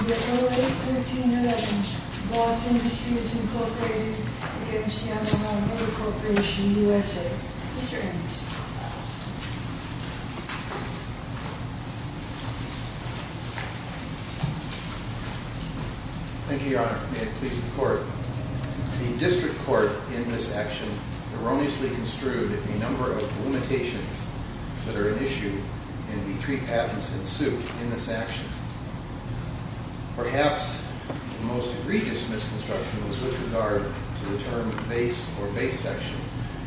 In the year 08-13-11, Voss Industries incorporated against Yamaha Motor Corporation USA. Mr. Anderson. Thank you, your honor. May it please the court. The district court in this action erroneously construed a number of limitations that are an issue, and the three patents ensued in this action. Perhaps the most egregious misconstruction was with regard to the term base or base section,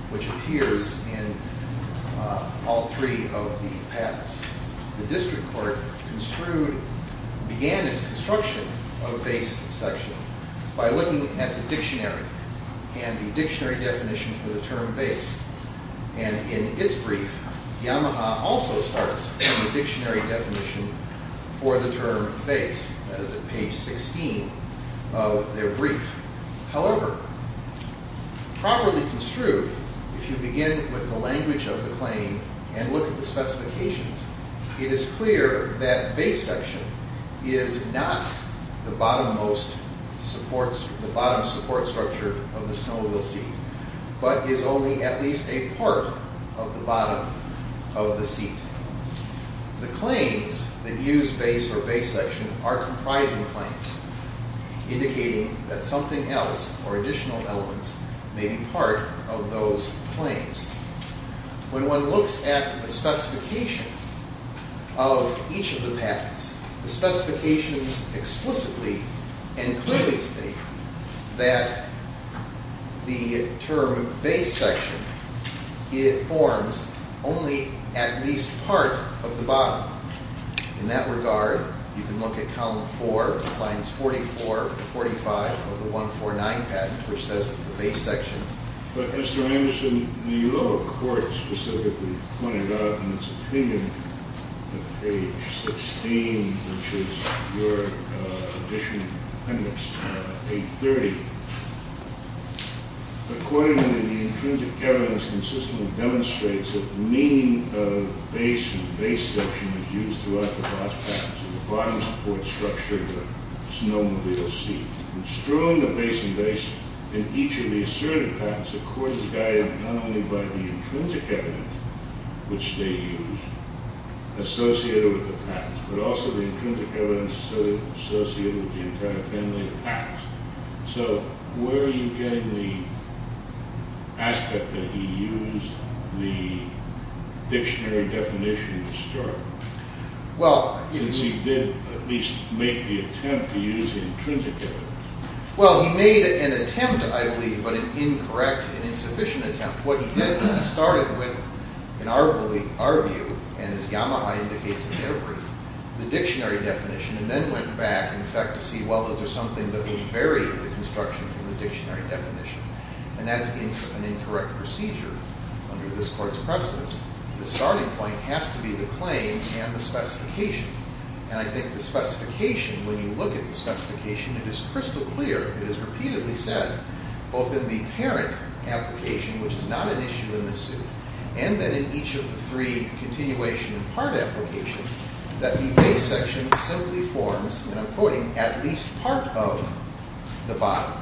which appears in all three of the patents. The district court construed, began its construction of base section by looking at the dictionary and the dictionary definition for the term base. And in its brief, Yamaha also starts from the dictionary definition for the term base. That is at page 16 of their brief. However, properly construed, if you begin with the language of the claim and look at the specifications, it is clear that base section is not the bottom support structure of the snowmobile seat. But is only at least a part of the bottom of the seat. The claims that use base or base section are comprising claims, indicating that something else or additional elements may be part of those claims. When one looks at the specifications of each of the patents, the specifications explicitly and clearly state that the term base section, it forms only at least part of the bottom. In that regard, you can look at column four, lines 44 to 45 of the 149 patent, which says that the base section. But Mr. Anderson, the lower court specifically pointed out in its opinion, at page 16, which is your additional appendix, 830. Accordingly, the intrinsic evidence consistently demonstrates that the meaning of base and base section is used throughout the vast patents of the bottom support structure of the snowmobile seat. In strewing the base and base in each of the asserted patents, the court is guided not only by the intrinsic evidence, which they use, associated with the patent, but also the intrinsic evidence associated with the entire family of patents. So where are you getting the aspect that he used the dictionary definition to start? Since he did at least make the attempt to use the intrinsic evidence. Well, he made an attempt, I believe, but an incorrect and insufficient attempt. What he did was he started with, in our view, and as Yamaha indicates in their brief, the dictionary definition, and then went back in effect to see, well, is there something that would vary the construction from the dictionary definition? And that's an incorrect procedure under this court's precedence. The starting point has to be the claim and the specification. And I think the specification, when you look at the specification, it is crystal clear, it is repeatedly said, both in the parent application, which is not an issue in this suit, and then in each of the three continuation and part applications, that the base section simply forms, and I'm quoting, at least part of the bottom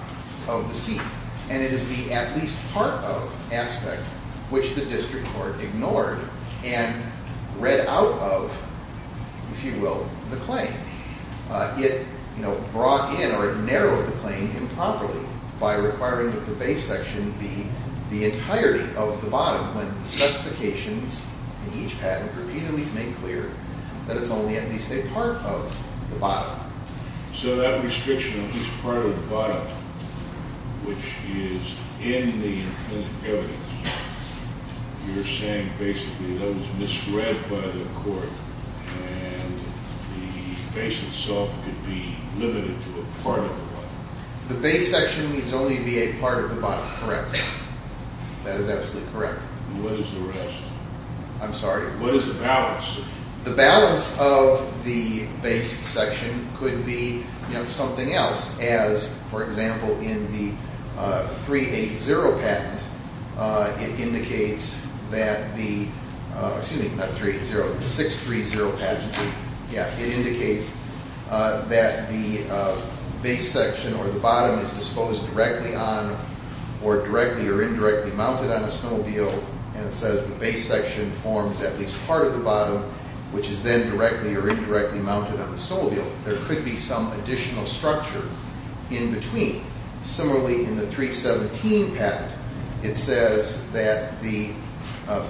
of the seat. And it is the at least part of aspect which the district court ignored and read out of, if you will, the claim. It brought in or it narrowed the claim improperly by requiring that the base section be the entirety of the bottom when the specifications in each patent repeatedly made clear that it's only at least a part of the bottom. So that restriction, at least part of the bottom, which is in the evidence, you're saying basically that was misread by the court, and the base itself could be limited to a part of the bottom. The base section needs only be a part of the bottom, correct. That is absolutely correct. What is the rest? I'm sorry? What is the balance? The balance of the base section could be something else as, for example, in the 380 patent, it indicates that the, excuse me, not 380, the 630 patent. It indicates that the base section or the bottom is disposed directly on or directly or indirectly mounted on a snowmobile, and it says the base section forms at least part of the bottom, which is then directly or indirectly mounted on the snowmobile. There could be some additional structure in between. Similarly, in the 317 patent, it says that the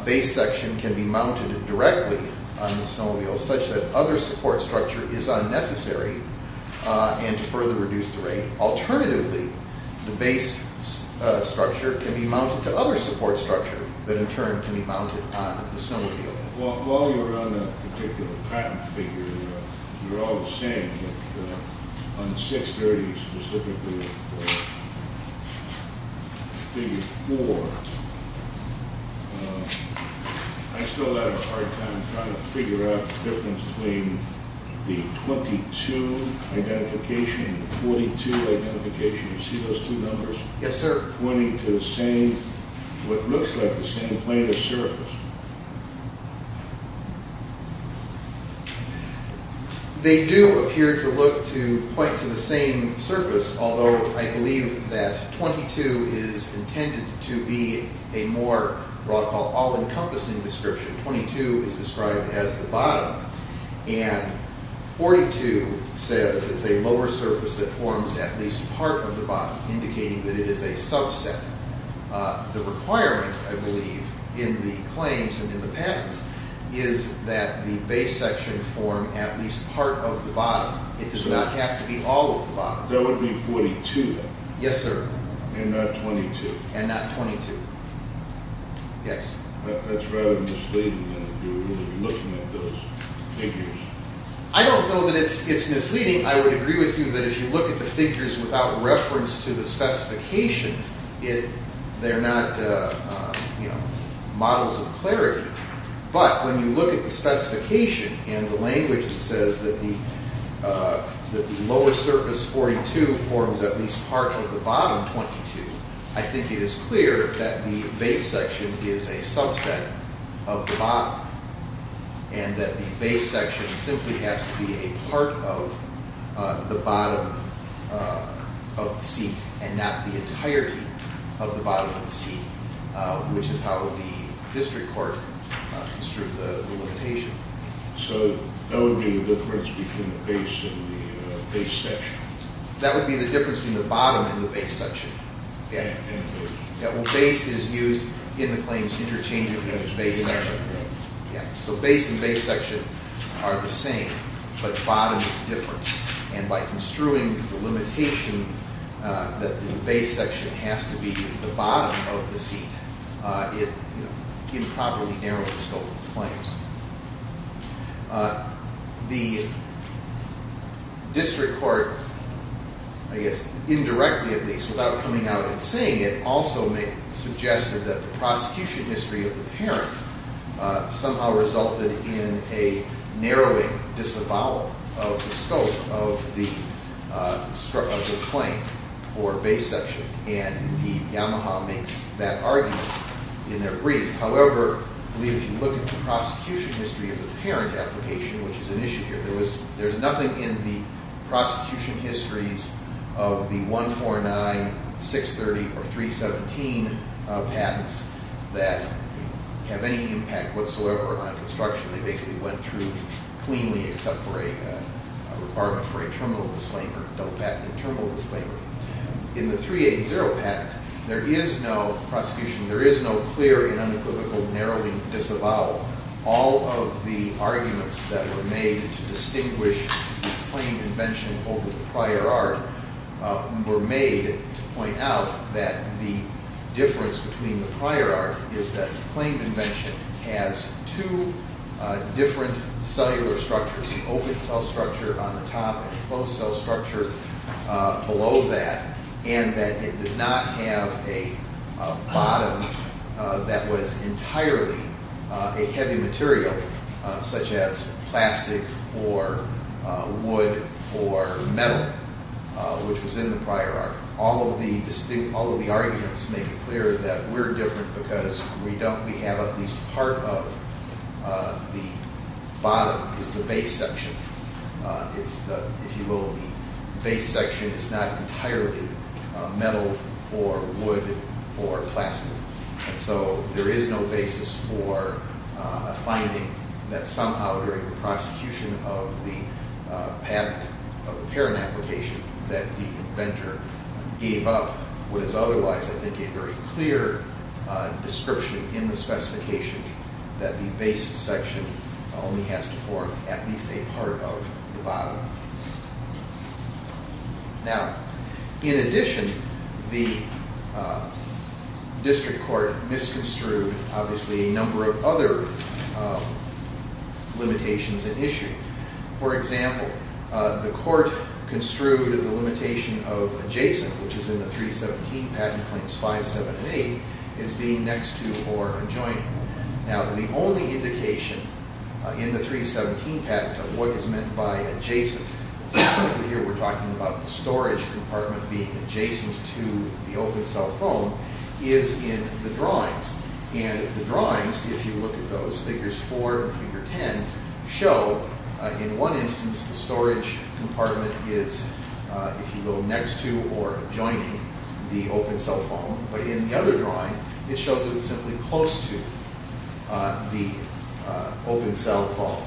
base section can be mounted directly on the snowmobile such that other support structure is unnecessary and to further reduce the rate. Alternatively, the base structure can be mounted to other support structure that in turn can be mounted on the snowmobile. While you're on a particular patent figure, you're all the same, but on 630 specifically, figure 4, I still have a hard time trying to figure out the difference between the 22 identification and the 42 identification. Do you see those two numbers? Yes, sir. They're pointing to the same, what looks like the same plane of surface. They do appear to look to point to the same surface, although I believe that 22 is intended to be a more all-encompassing description. 22 is described as the bottom, and 42 says it's a lower surface that forms at least part of the bottom, indicating that it is a subset. The requirement, I believe, in the claims and in the patents is that the base section form at least part of the bottom. It does not have to be all of the bottom. That would be 42, then? Yes, sir. And not 22? And not 22. Yes. That's rather misleading, then, if you're looking at those figures. I don't know that it's misleading. I would agree with you that if you look at the figures without reference to the specification, they're not models of clarity. But when you look at the specification and the language that says that the lower surface, 42, forms at least part of the bottom, 22, I think it is clear that the base section is a subset of the bottom and that the base section simply has to be a part of the bottom of the seat and not the entirety of the bottom of the seat, which is how the district court construed the limitation. So that would be the difference between the base and the base section? That would be the difference between the bottom and the base section. Yeah. Well, base is used in the claims interchangeably with base section. Yeah. So base and base section are the same, but bottom is different. And by construing the limitation that the base section has to be the bottom of the seat, it improperly narrows the scope of the claims. The district court, I guess indirectly at least without coming out and saying it, also suggested that the prosecution history of the parent somehow resulted in a narrowing disavowal of the scope of the claim or base section. And indeed, Yamaha makes that argument in their brief. However, I believe if you look at the prosecution history of the parent application, which is an issue here, there's nothing in the prosecution histories of the 149, 630, or 317 patents that have any impact whatsoever on construction. They basically went through cleanly except for a requirement for a terminal disclaimer, adult patent and terminal disclaimer. In the 380 patent, there is no prosecution. There is no clear and unequivocal narrowing disavowal. All of the arguments that were made to distinguish the claimed invention over the prior art were made to point out that the difference between the prior art is that the claimed invention has two different cellular structures, the open cell structure on the top and the closed cell structure below that. And that it did not have a bottom that was entirely a heavy material, such as plastic or wood or metal, which was in the prior art. All of the arguments make it clear that we're different because we have at least part of the bottom is the base section. If you will, the base section is not entirely metal or wood or plastic. And so there is no basis for a finding that somehow during the prosecution of the patent, of the parent application, that the inventor gave up what is otherwise I think a very clear description in the specification that the base section only has to form at least a part of the bottom. Now, in addition, the district court misconstrued obviously a number of other limitations at issue. For example, the court construed the limitation of adjacent, which is in the 317 patent claims 5, 7, and 8, as being next to or adjoining. Now, the only indication in the 317 patent of what is meant by adjacent, specifically here we're talking about the storage compartment being adjacent to the open cell foam, is in the drawings. And the drawings, if you look at those, figures 4 and figure 10, show in one instance the storage compartment is, if you will, next to or adjoining the open cell foam. But in the other drawing, it shows that it's simply close to the open cell foam.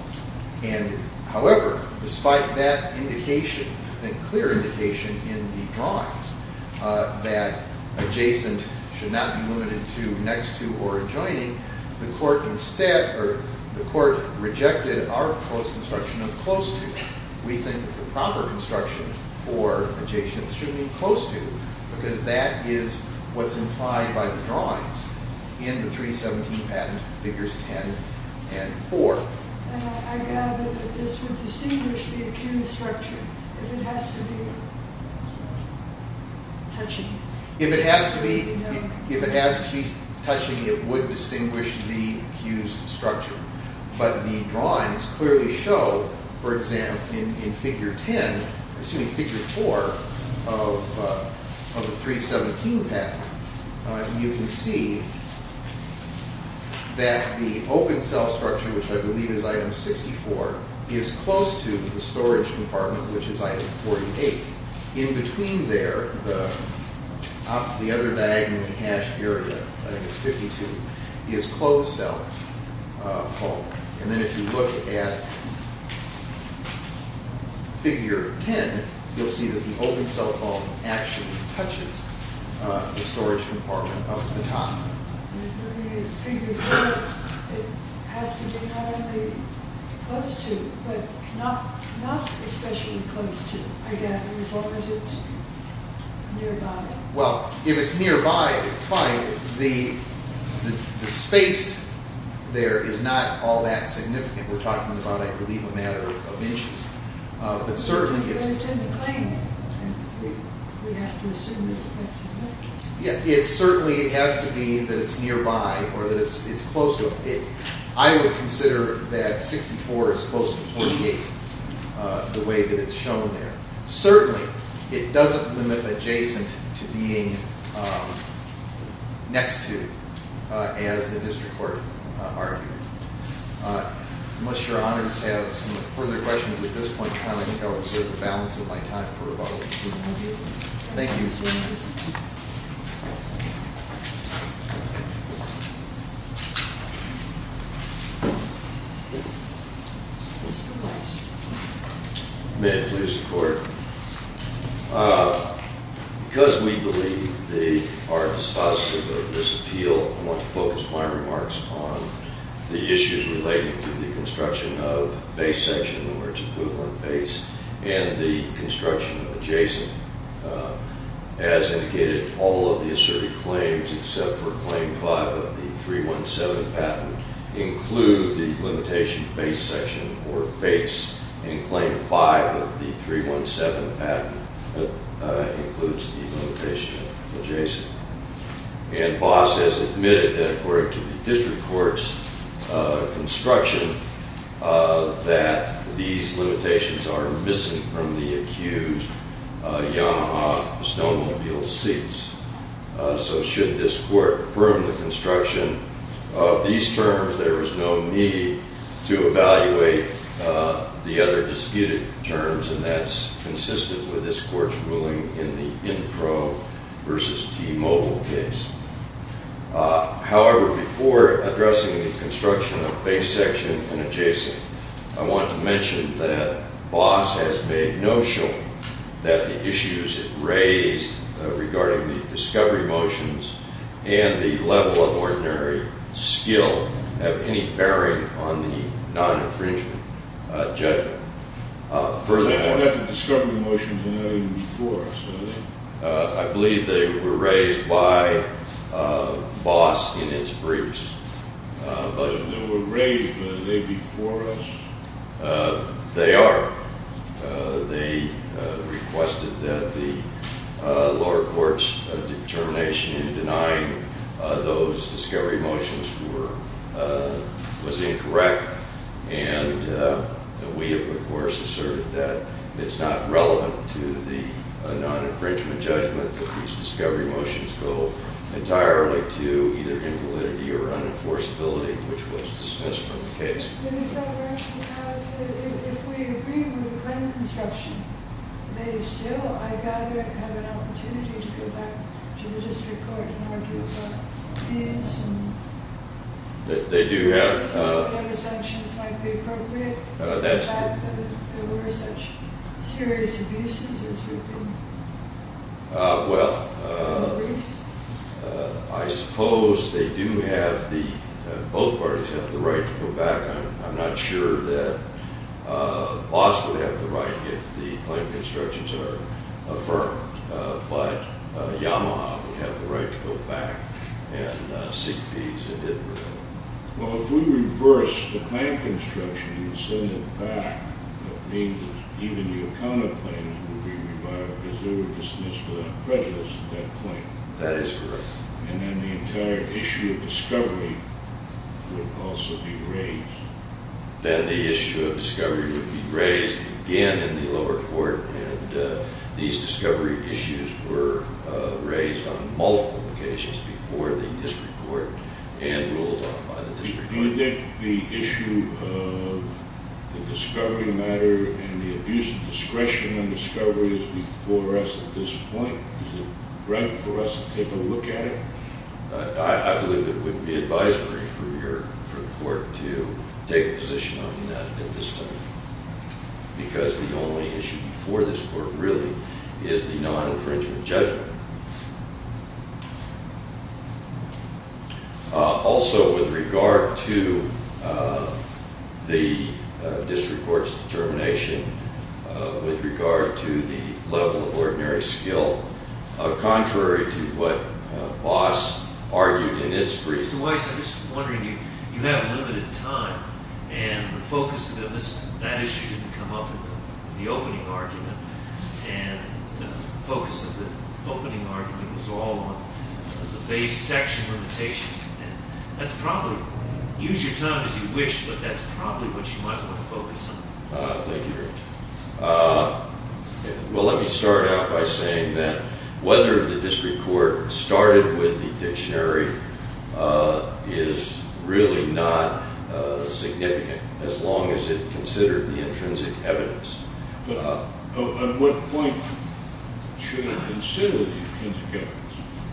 And however, despite that indication, that clear indication in the drawings that adjacent should not be limited to next to or adjoining, the court instead, or the court rejected our post construction of close to. We think the proper construction for adjacent should be close to because that is what's implied by the drawings in the 317 patent figures 10 and 4. And I gather that this would distinguish the accused structure if it has to be touching. If it has to be touching, it would distinguish the accused structure. But the drawings clearly show, for example, in figure 10, excuse me, figure 4 of the 317 patent, you can see that the open cell structure, which I believe is item 64, is close to the storage compartment, which is item 48. In between there, the other diagonally hashed area, item 52, is closed cell foam. And then if you look at figure 10, you'll see that the open cell foam actually touches the storage compartment up at the top. If you look at figure 4, it has to be not only close to, but not especially close to, again, as long as it's nearby. Well, if it's nearby, it's fine. The space there is not all that significant. We're talking about, I believe, a matter of inches. But it's in the claim, and we have to assume that that's significant. Yeah, it certainly has to be that it's nearby or that it's close to. I would consider that 64 is close to 48, the way that it's shown there. Certainly, it doesn't limit adjacent to being next to, as the district court argued. Unless your honors have some further questions at this point in time, I think I'll reserve the balance of my time for rebuttal. Thank you. May it please the court. Because we believe they are dispositive of this appeal, I want to focus my remarks on the issues relating to the construction of base section, or its equivalent base, and the construction of adjacent. As indicated, all of the asserted claims, except for Claim 5 of the 317 patent, include the limitation of base section or base. And Claim 5 of the 317 patent includes the limitation of adjacent. And BOSS has admitted that according to the district court's construction, that these limitations are missing from the accused Yamaha Stonewheel seats. So should this court affirm the construction of these terms, there is no need to evaluate the other disputed terms. And that's consistent with this court's ruling in the INPRO versus T-Mobile case. However, before addressing the construction of base section and adjacent, I want to mention that BOSS has made no show that the issues it raised regarding the discovery motions and the level of ordinary skill have any bearing on the non-infringement judgment. I believe they were raised by BOSS in its briefs. They were raised, but are they before us? They are. They requested that the lower court's determination in denying those discovery motions was incorrect. And we have, of course, asserted that it's not relevant to the non-infringement judgment that these discovery motions go entirely to either invalidity or unenforceability, which was dismissed from the case. Is that right? Because if we agree with the claim construction, they still, I gather, have an opportunity to go back to the district court and argue about fees? They do have. Is that why the sanctions might be appropriate? That's true. Because there were such serious abuses as we've been briefed. Well, I suppose they do have the, both parties have the right to go back. I'm not sure that BOSS would have the right if the claim constructions are affirmed, but Yamaha would have the right to go back and seek fees if it were. Well, if we reverse the claim construction and send it back, that means that even the account of claims would be revived because they were dismissed without prejudice at that point. That is correct. And then the entire issue of discovery would also be raised. Then the issue of discovery would be raised again in the lower court, and these discovery issues were raised on multiple occasions before the district court and ruled on by the district court. Do you think the issue of the discovery matter and the abuse of discretion on discovery is before us at this point? Is it right for us to take a look at it? I believe it would be advisory for the court to take a position on that at this time because the only issue before this court really is the non-infringement judgment. Also, with regard to the district court's determination with regard to the level of ordinary skill, contrary to what BOSS argued in its brief. Mr. Weiss, I'm just wondering, you have limited time, and the focus of that issue didn't come up in the opening argument, and the focus of the opening argument was all on the base section limitation. Use your time as you wish, but that's probably what you might want to focus on. Thank you, Your Honor. Well, let me start out by saying that whether the district court started with the dictionary is really not significant as long as it considered the intrinsic evidence. But at what point should it consider the intrinsic evidence?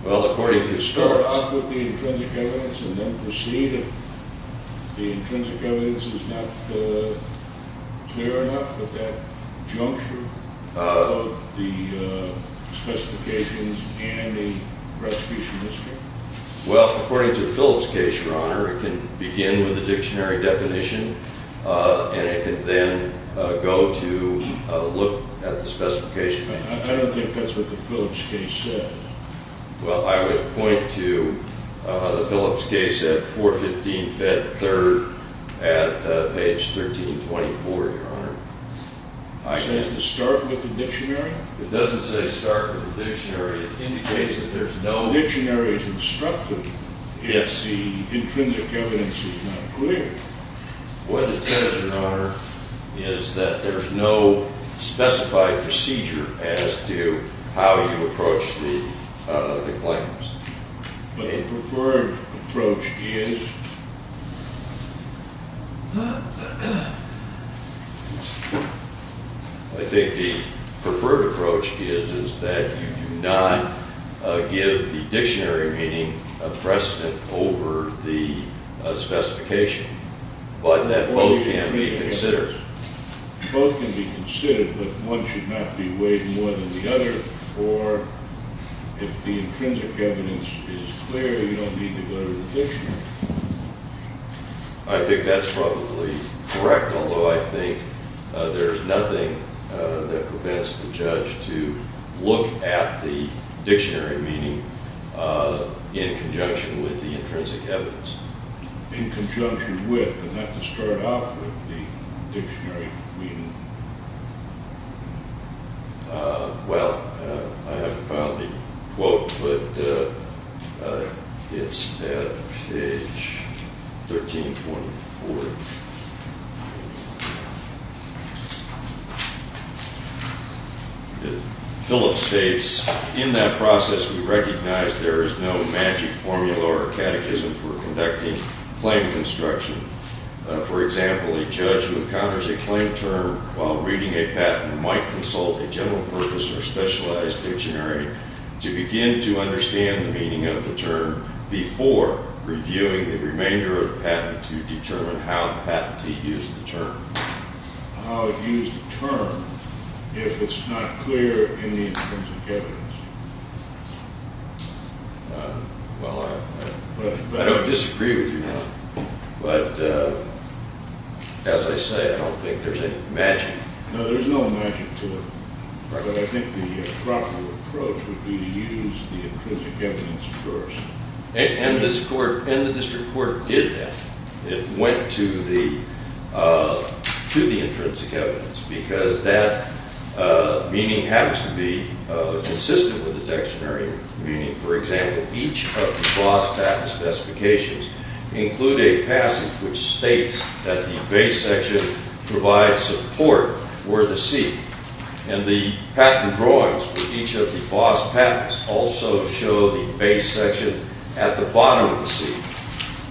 Well, according to Stortz. Start out with the intrinsic evidence and then proceed if the intrinsic evidence is not clear enough at that juncture of the specifications and the retribution history. Well, according to the Phillips case, Your Honor, it can begin with the dictionary definition and it can then go to look at the specification. I don't think that's what the Phillips case said. Well, I would point to the Phillips case at 415 Fed 3rd at page 1324, Your Honor. It says to start with the dictionary? It doesn't say start with the dictionary. It indicates that there's no... The dictionary is instructive if the intrinsic evidence is not clear. What it says, Your Honor, is that there's no specified procedure as to how you approach the claims. But a preferred approach is? I think the preferred approach is that you do not give the dictionary meaning a precedent over the specification, but that both can be considered. Both can be considered, but one should not be weighed more than the other. Or if the intrinsic evidence is clear, you don't need to go to the dictionary. I think that's probably correct, although I think there's nothing that prevents the judge to look at the dictionary meaning in conjunction with the intrinsic evidence. In conjunction with, but not to start off with the dictionary meaning. Well, I haven't found the quote, but it's at page 1324. Phillips states, in that process we recognize there is no magic formula or catechism for conducting claim construction. For example, a judge who encounters a claim term while reading a patent might consult a general purpose or specialized dictionary to begin to understand the meaning of the term before reviewing the remainder of the patent to determine how the patentee used the term. How it used the term if it's not clear in the intrinsic evidence. Well, I don't disagree with you on that. But as I say, I don't think there's any magic. No, there's no magic to it. But I think the proper approach would be to use the intrinsic evidence first. And the district court did that. It went to the intrinsic evidence. Because that meaning happens to be consistent with the dictionary meaning. For example, each of the boss patent specifications include a passage which states that the base section provides support for the seat. And the patent drawings for each of the boss patents also show the base section at the bottom of the seat.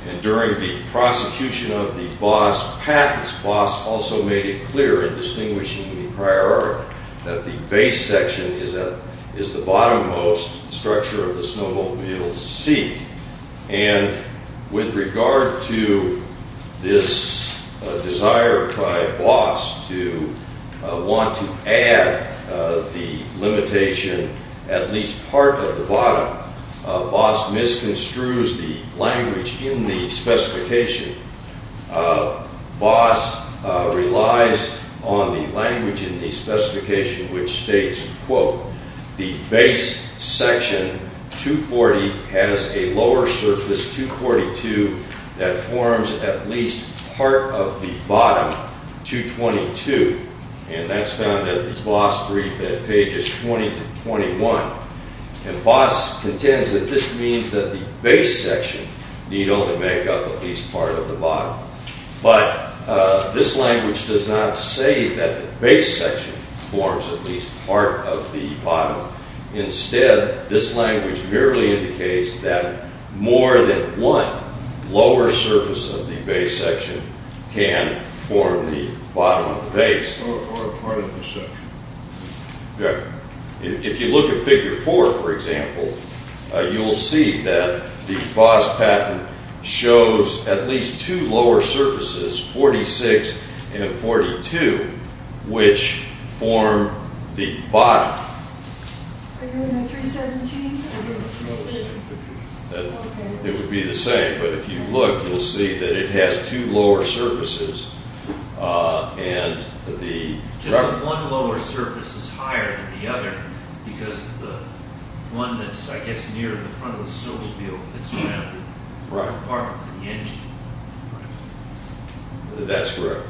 And during the prosecution of the boss patents, boss also made it clear in distinguishing the prior art that the base section is the bottom most structure of the snowmobile seat. And with regard to this desire by boss to want to add the limitation at least part of the bottom, boss misconstrues the language in the specification. Boss relies on the language in the specification which states, quote, the base section 240 has a lower surface 242 that forms at least part of the bottom 222. And that's found at the boss brief at pages 20 to 21. And boss contends that this means that the base section need only make up at least part of the bottom. But this language does not say that the base section forms at least part of the bottom. Instead, this language merely indicates that more than one lower surface of the base section can form the bottom of the base. If you look at figure four, for example, you'll see that the boss patent shows at least two lower surfaces, 46 and 42, which form the bottom. It would be the same. But if you look, you'll see that it has two lower surfaces and the one lower surface is higher than the other. Because one that's, I guess, near the front of the snowmobile. That's correct.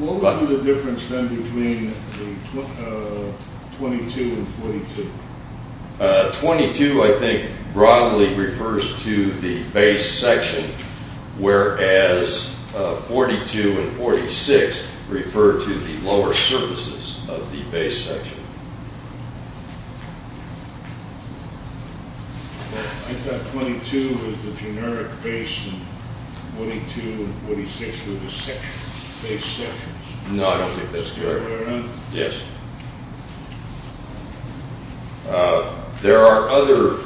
What would be the difference then between 22 and 42? 22, I think, broadly refers to the base section, whereas 42 and 46 refer to the lower surfaces of the base section. I thought 22 was the generic base and 42 and 46 were the base sections. No, I don't think that's correct. Yes. There are other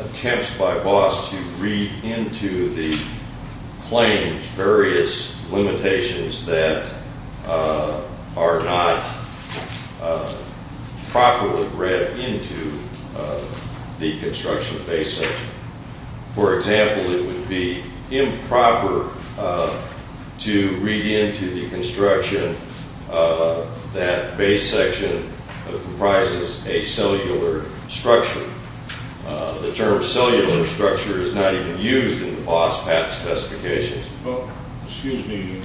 attempts by boss to read into the claims, various limitations that are not properly read into the construction of the base section. For example, it would be improper to read into the construction that base section comprises a cellular structure. The term cellular structure is not even used in the boss patent specifications. Well, excuse me.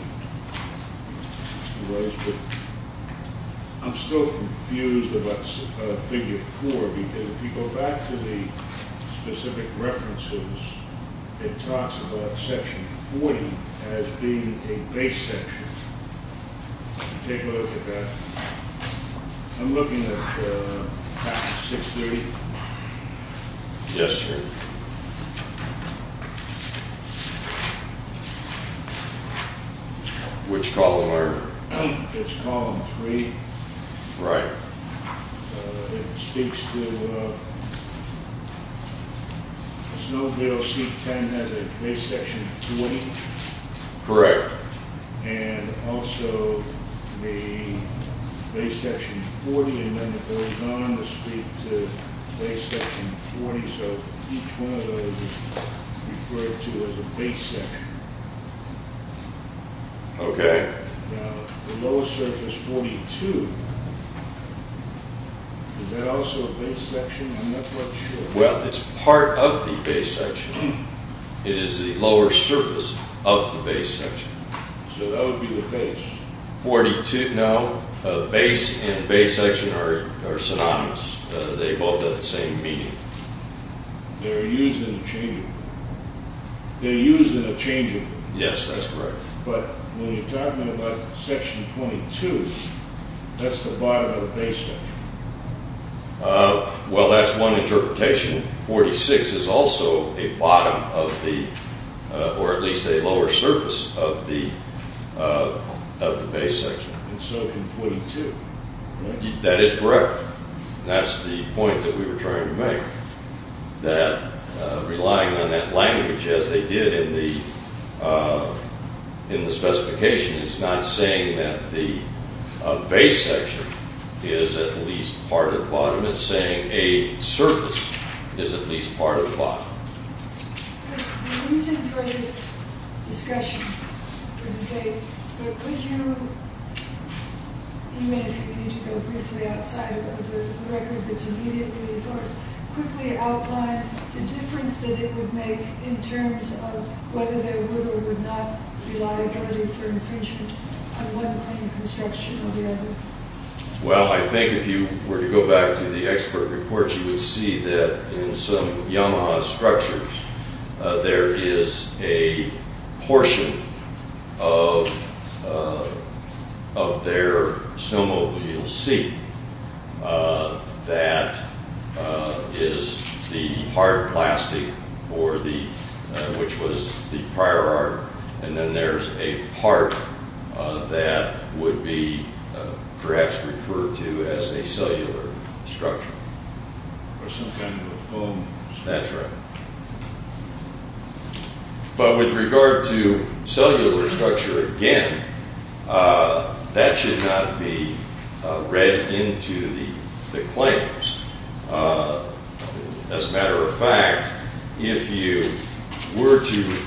I'm still confused about figure 4 because if you go back to the specific references, it talks about section 40 as being a base section. Take a look at that. I'm looking at 630. Yes, sir. Which column, Eric? It's column 3. Right. It speaks to snowmobile seat 10 as a base section 20. Correct. And also the base section 40 and then it goes on to speak to base section 40. So each one of those is referred to as a base section. Okay. Now, the lower surface 42, is that also a base section? I'm not quite sure. Well, it's part of the base section. It is the lower surface of the base section. So that would be the base. 42, no. Base and base section are synonymous. They both have the same meaning. They're used interchangeably. They're used interchangeably. Yes, that's correct. But when you're talking about section 22, that's the bottom of the base section. Well, that's one interpretation. Section 46 is also a bottom of the, or at least a lower surface of the base section. And so can 42. That is correct. That's the point that we were trying to make, that relying on that language as they did in the specification is not saying that the base section is at least part of bottom. It's saying a surface is at least part of bottom. The reason for this discussion, for the debate, but could you, even if you need to go briefly outside of the record that's immediately before us, quickly outline the difference that it would make in terms of whether there would or would not be liability for infringement on one kind of construction or the other? Well, I think if you were to go back to the expert report, you would see that in some Yamaha structures, there is a portion of their snowmobile seat that is the part of plastic or the, which was the prior art. And then there's a part that would be perhaps referred to as a cellular structure. Or some kind of foam. That's right. But with regard to cellular structure, again, that should not be read into the claims. As a matter of fact, if you were to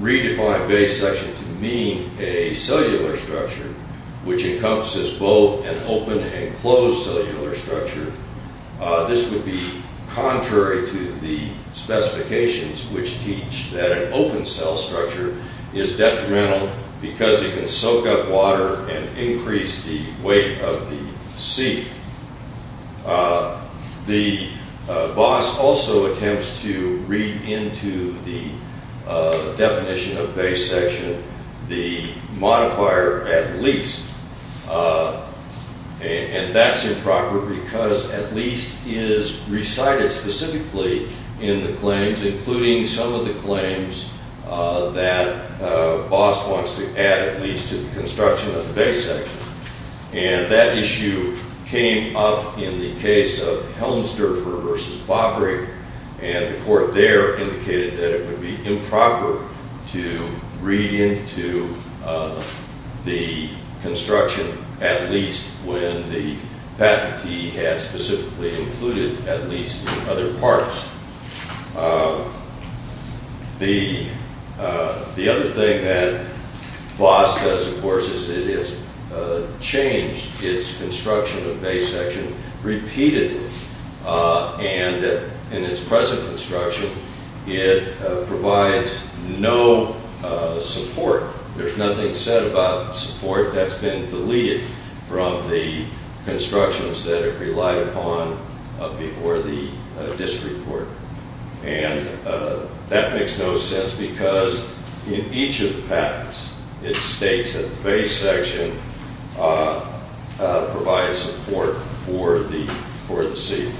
redefine base section to mean a cellular structure, which encompasses both an open and closed cellular structure, this would be contrary to the specifications which teach that an open cell structure is detrimental because it can soak up water and increase the weight of the seat. The boss also attempts to read into the definition of base section the modifier at least. And that's improper because at least is recited specifically in the claims, including some of the claims that boss wants to add at least to the construction of the base section. And that issue came up in the case of Helmsdorfer versus Bobrick. And the court there indicated that it would be improper to read into the construction at least when the patentee had specifically included at least in other parts. The other thing that boss does, of course, is it has changed its construction of base section repeatedly. And in its present construction, it provides no support. There's nothing said about support that's been deleted from the constructions that it relied upon before the district court. And that makes no sense because in each of the patents, it states that the base section provides support for the seat.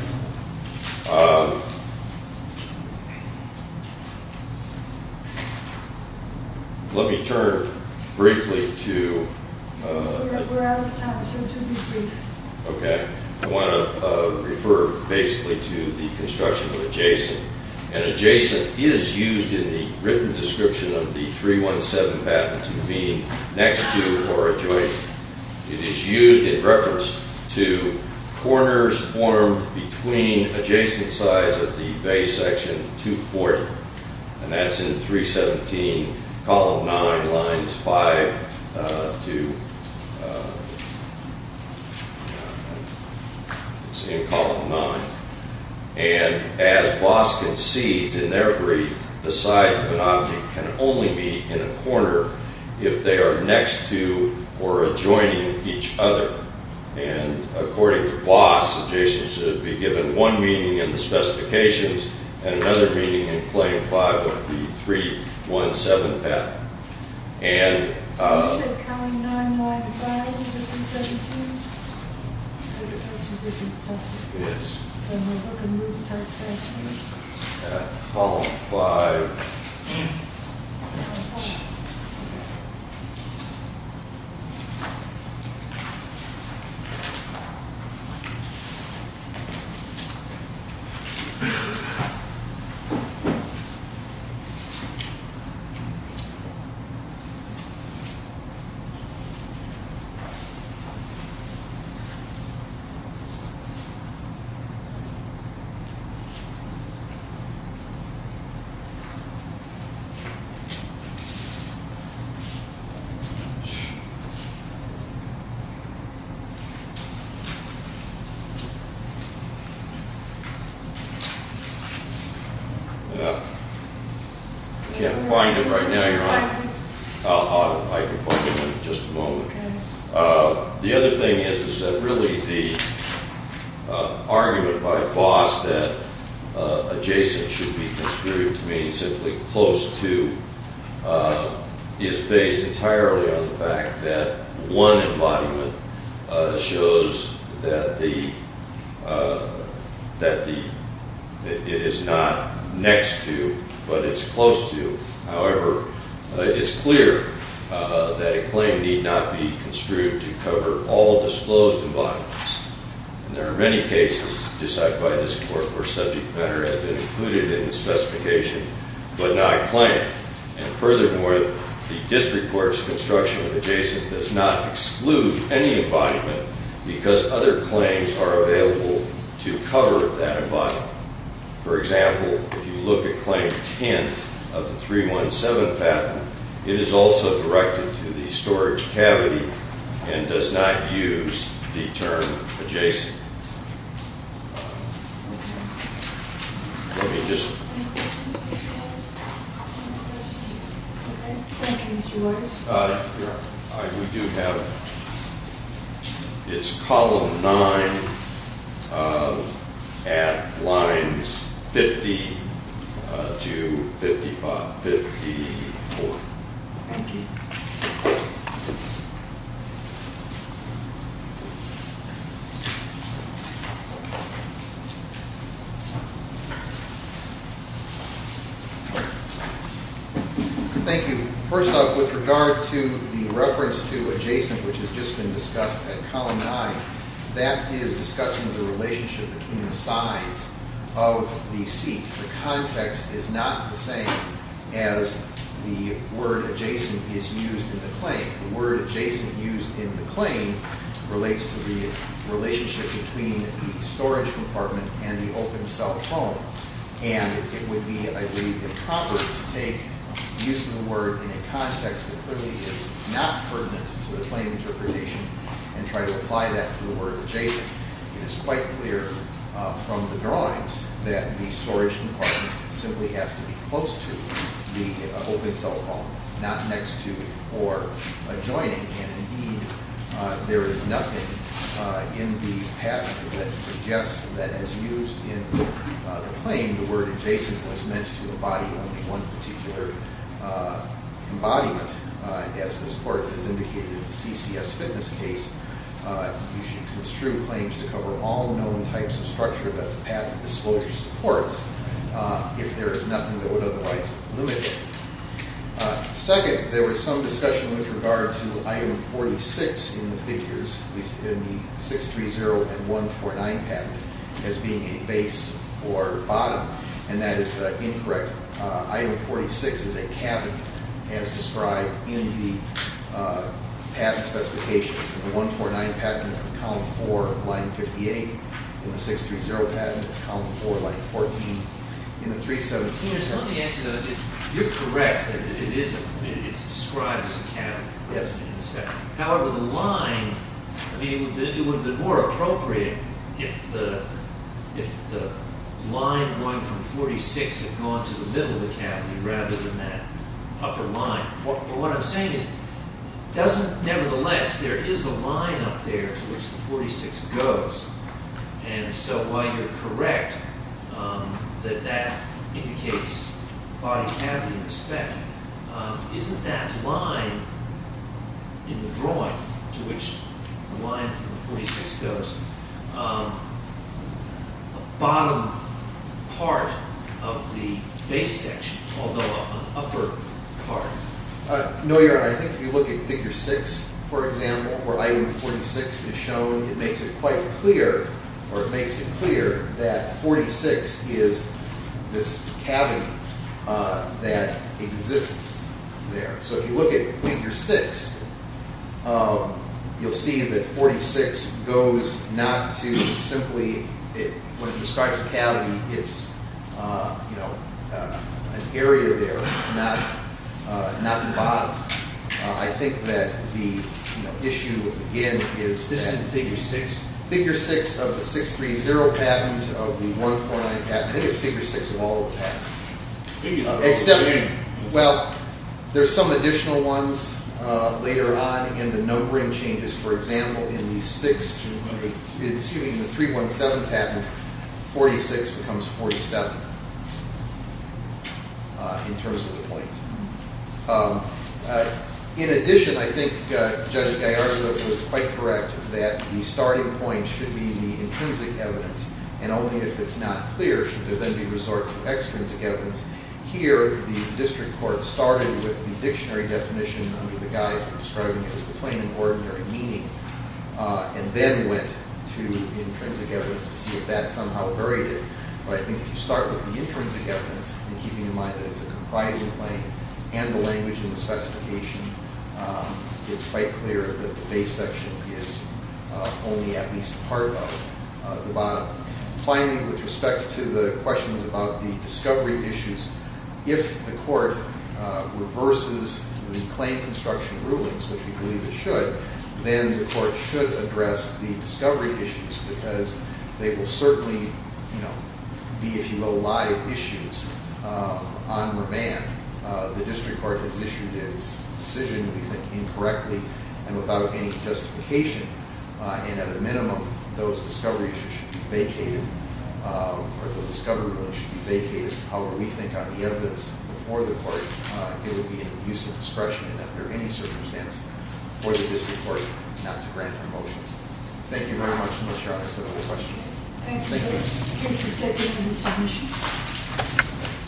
Let me turn briefly to- We're out of time, so to be brief. Okay, I want to refer basically to the construction of adjacent. And adjacent is used in the written description of the 317 patent to be next to or adjoining. It is used in reference to corners formed between adjacent sides of the base section 240. And that's in 317, column 9, lines 5 to- It's in column 9. And as boss concedes in their brief, the sides of an object can only be in a corner if they are next to or adjoining each other. And according to boss, adjacent should be given one meaning in the specifications and another meaning in claim 5 of the 317 patent. And- So you said column 9, line 5 of the 317? Yes. Column 5. I can't find it right now. I can find it in just a moment. The other thing is that really the argument by boss that adjacent should be construed to mean simply close to is based entirely on the fact that one embodiment shows that it is not next to but it's close to. However, it's clear that a claim need not be construed to cover all disclosed embodiments. And there are many cases decided by this court where subject matter has been included in the specification but not claimed. And furthermore, the district court's construction of adjacent does not exclude any embodiment because other claims are available to cover that embodiment. For example, if you look at claim 10 of the 317 patent, it is also directed to the storage cavity and does not use the term adjacent. Let me just- Thank you, Mr. Waters. We do have- It's column 9 at lines 50 to 54. Thank you. Thank you. The word adjacent used in the claim relates to the relationship between the storage compartment and the open cell phone. And it would be, I believe, improper to take use of the word in a context that clearly is not pertinent to the claim interpretation and try to apply that to the word adjacent. It is quite clear from the drawings that the storage compartment simply has to be close to the open cell phone, not next to or adjoining. And indeed, there is nothing in the patent that suggests that as used in the claim, the word adjacent was meant to embody only one particular embodiment. As this court has indicated in the CCS fitness case, you should construe claims to cover all known types of structure that the patent disclosure supports if there is nothing that would otherwise limit it. Second, there was some discussion with regard to item 46 in the figures, at least in the 630 and 149 patent, as being a base or bottom. And that is incorrect. Item 46 is a cabinet, as described in the patent specifications. In the 149 patent, it's in column 4, line 58. In the 630 patent, it's column 4, line 14. In the 317- Let me ask you, you're correct that it's described as a cabinet. Yes. However, the line, it would have been more appropriate if the line going from 46 had gone to the middle of the cabinet rather than that upper line. But what I'm saying is, nevertheless, there is a line up there to which the 46 goes. And so while you're correct that that indicates body cavity in the spec, isn't that line in the drawing to which the line from the 46 goes a bottom part of the base section, although an upper part? No, Your Honor. I think if you look at figure 6, for example, where item 46 is shown, it makes it quite clear, or it makes it clear that 46 is this cavity that exists there. So if you look at figure 6, you'll see that 46 goes not to simply, when it describes a cavity, it's an area there, not the bottom. I think that the issue, again, is- This is figure 6? Figure 6 of the 630 patent of the 149 patent. I think it's figure 6 of all the patents. Well, there's some additional ones later on in the numbering changes. For example, in the 317 patent, 46 becomes 47 in terms of the points. In addition, I think Judge Gallarza was quite correct that the starting point should be the intrinsic evidence. And only if it's not clear should there then be resort to extrinsic evidence. Here, the district court started with the dictionary definition under the guise of describing it as the plain and ordinary meaning, and then went to the intrinsic evidence to see if that somehow varied it. But I think if you start with the intrinsic evidence and keeping in mind that it's a comprising claim and the language in the specification, it's quite clear that the base section is only at least part of the bottom. Finally, with respect to the questions about the discovery issues, if the court reverses the claim construction rulings, which we believe it should, then the court should address the discovery issues because they will certainly be, if you will, live issues on remand. The district court has issued its decision, we think, incorrectly and without any justification. And at a minimum, those discovery issues should be vacated, or the discovery ruling should be vacated. However, we think on the evidence before the court, it would be an abuse of discretion and under any circumstance for the district court not to grant our motions. Thank you very much. I'm not sure I understood all the questions. Thank you.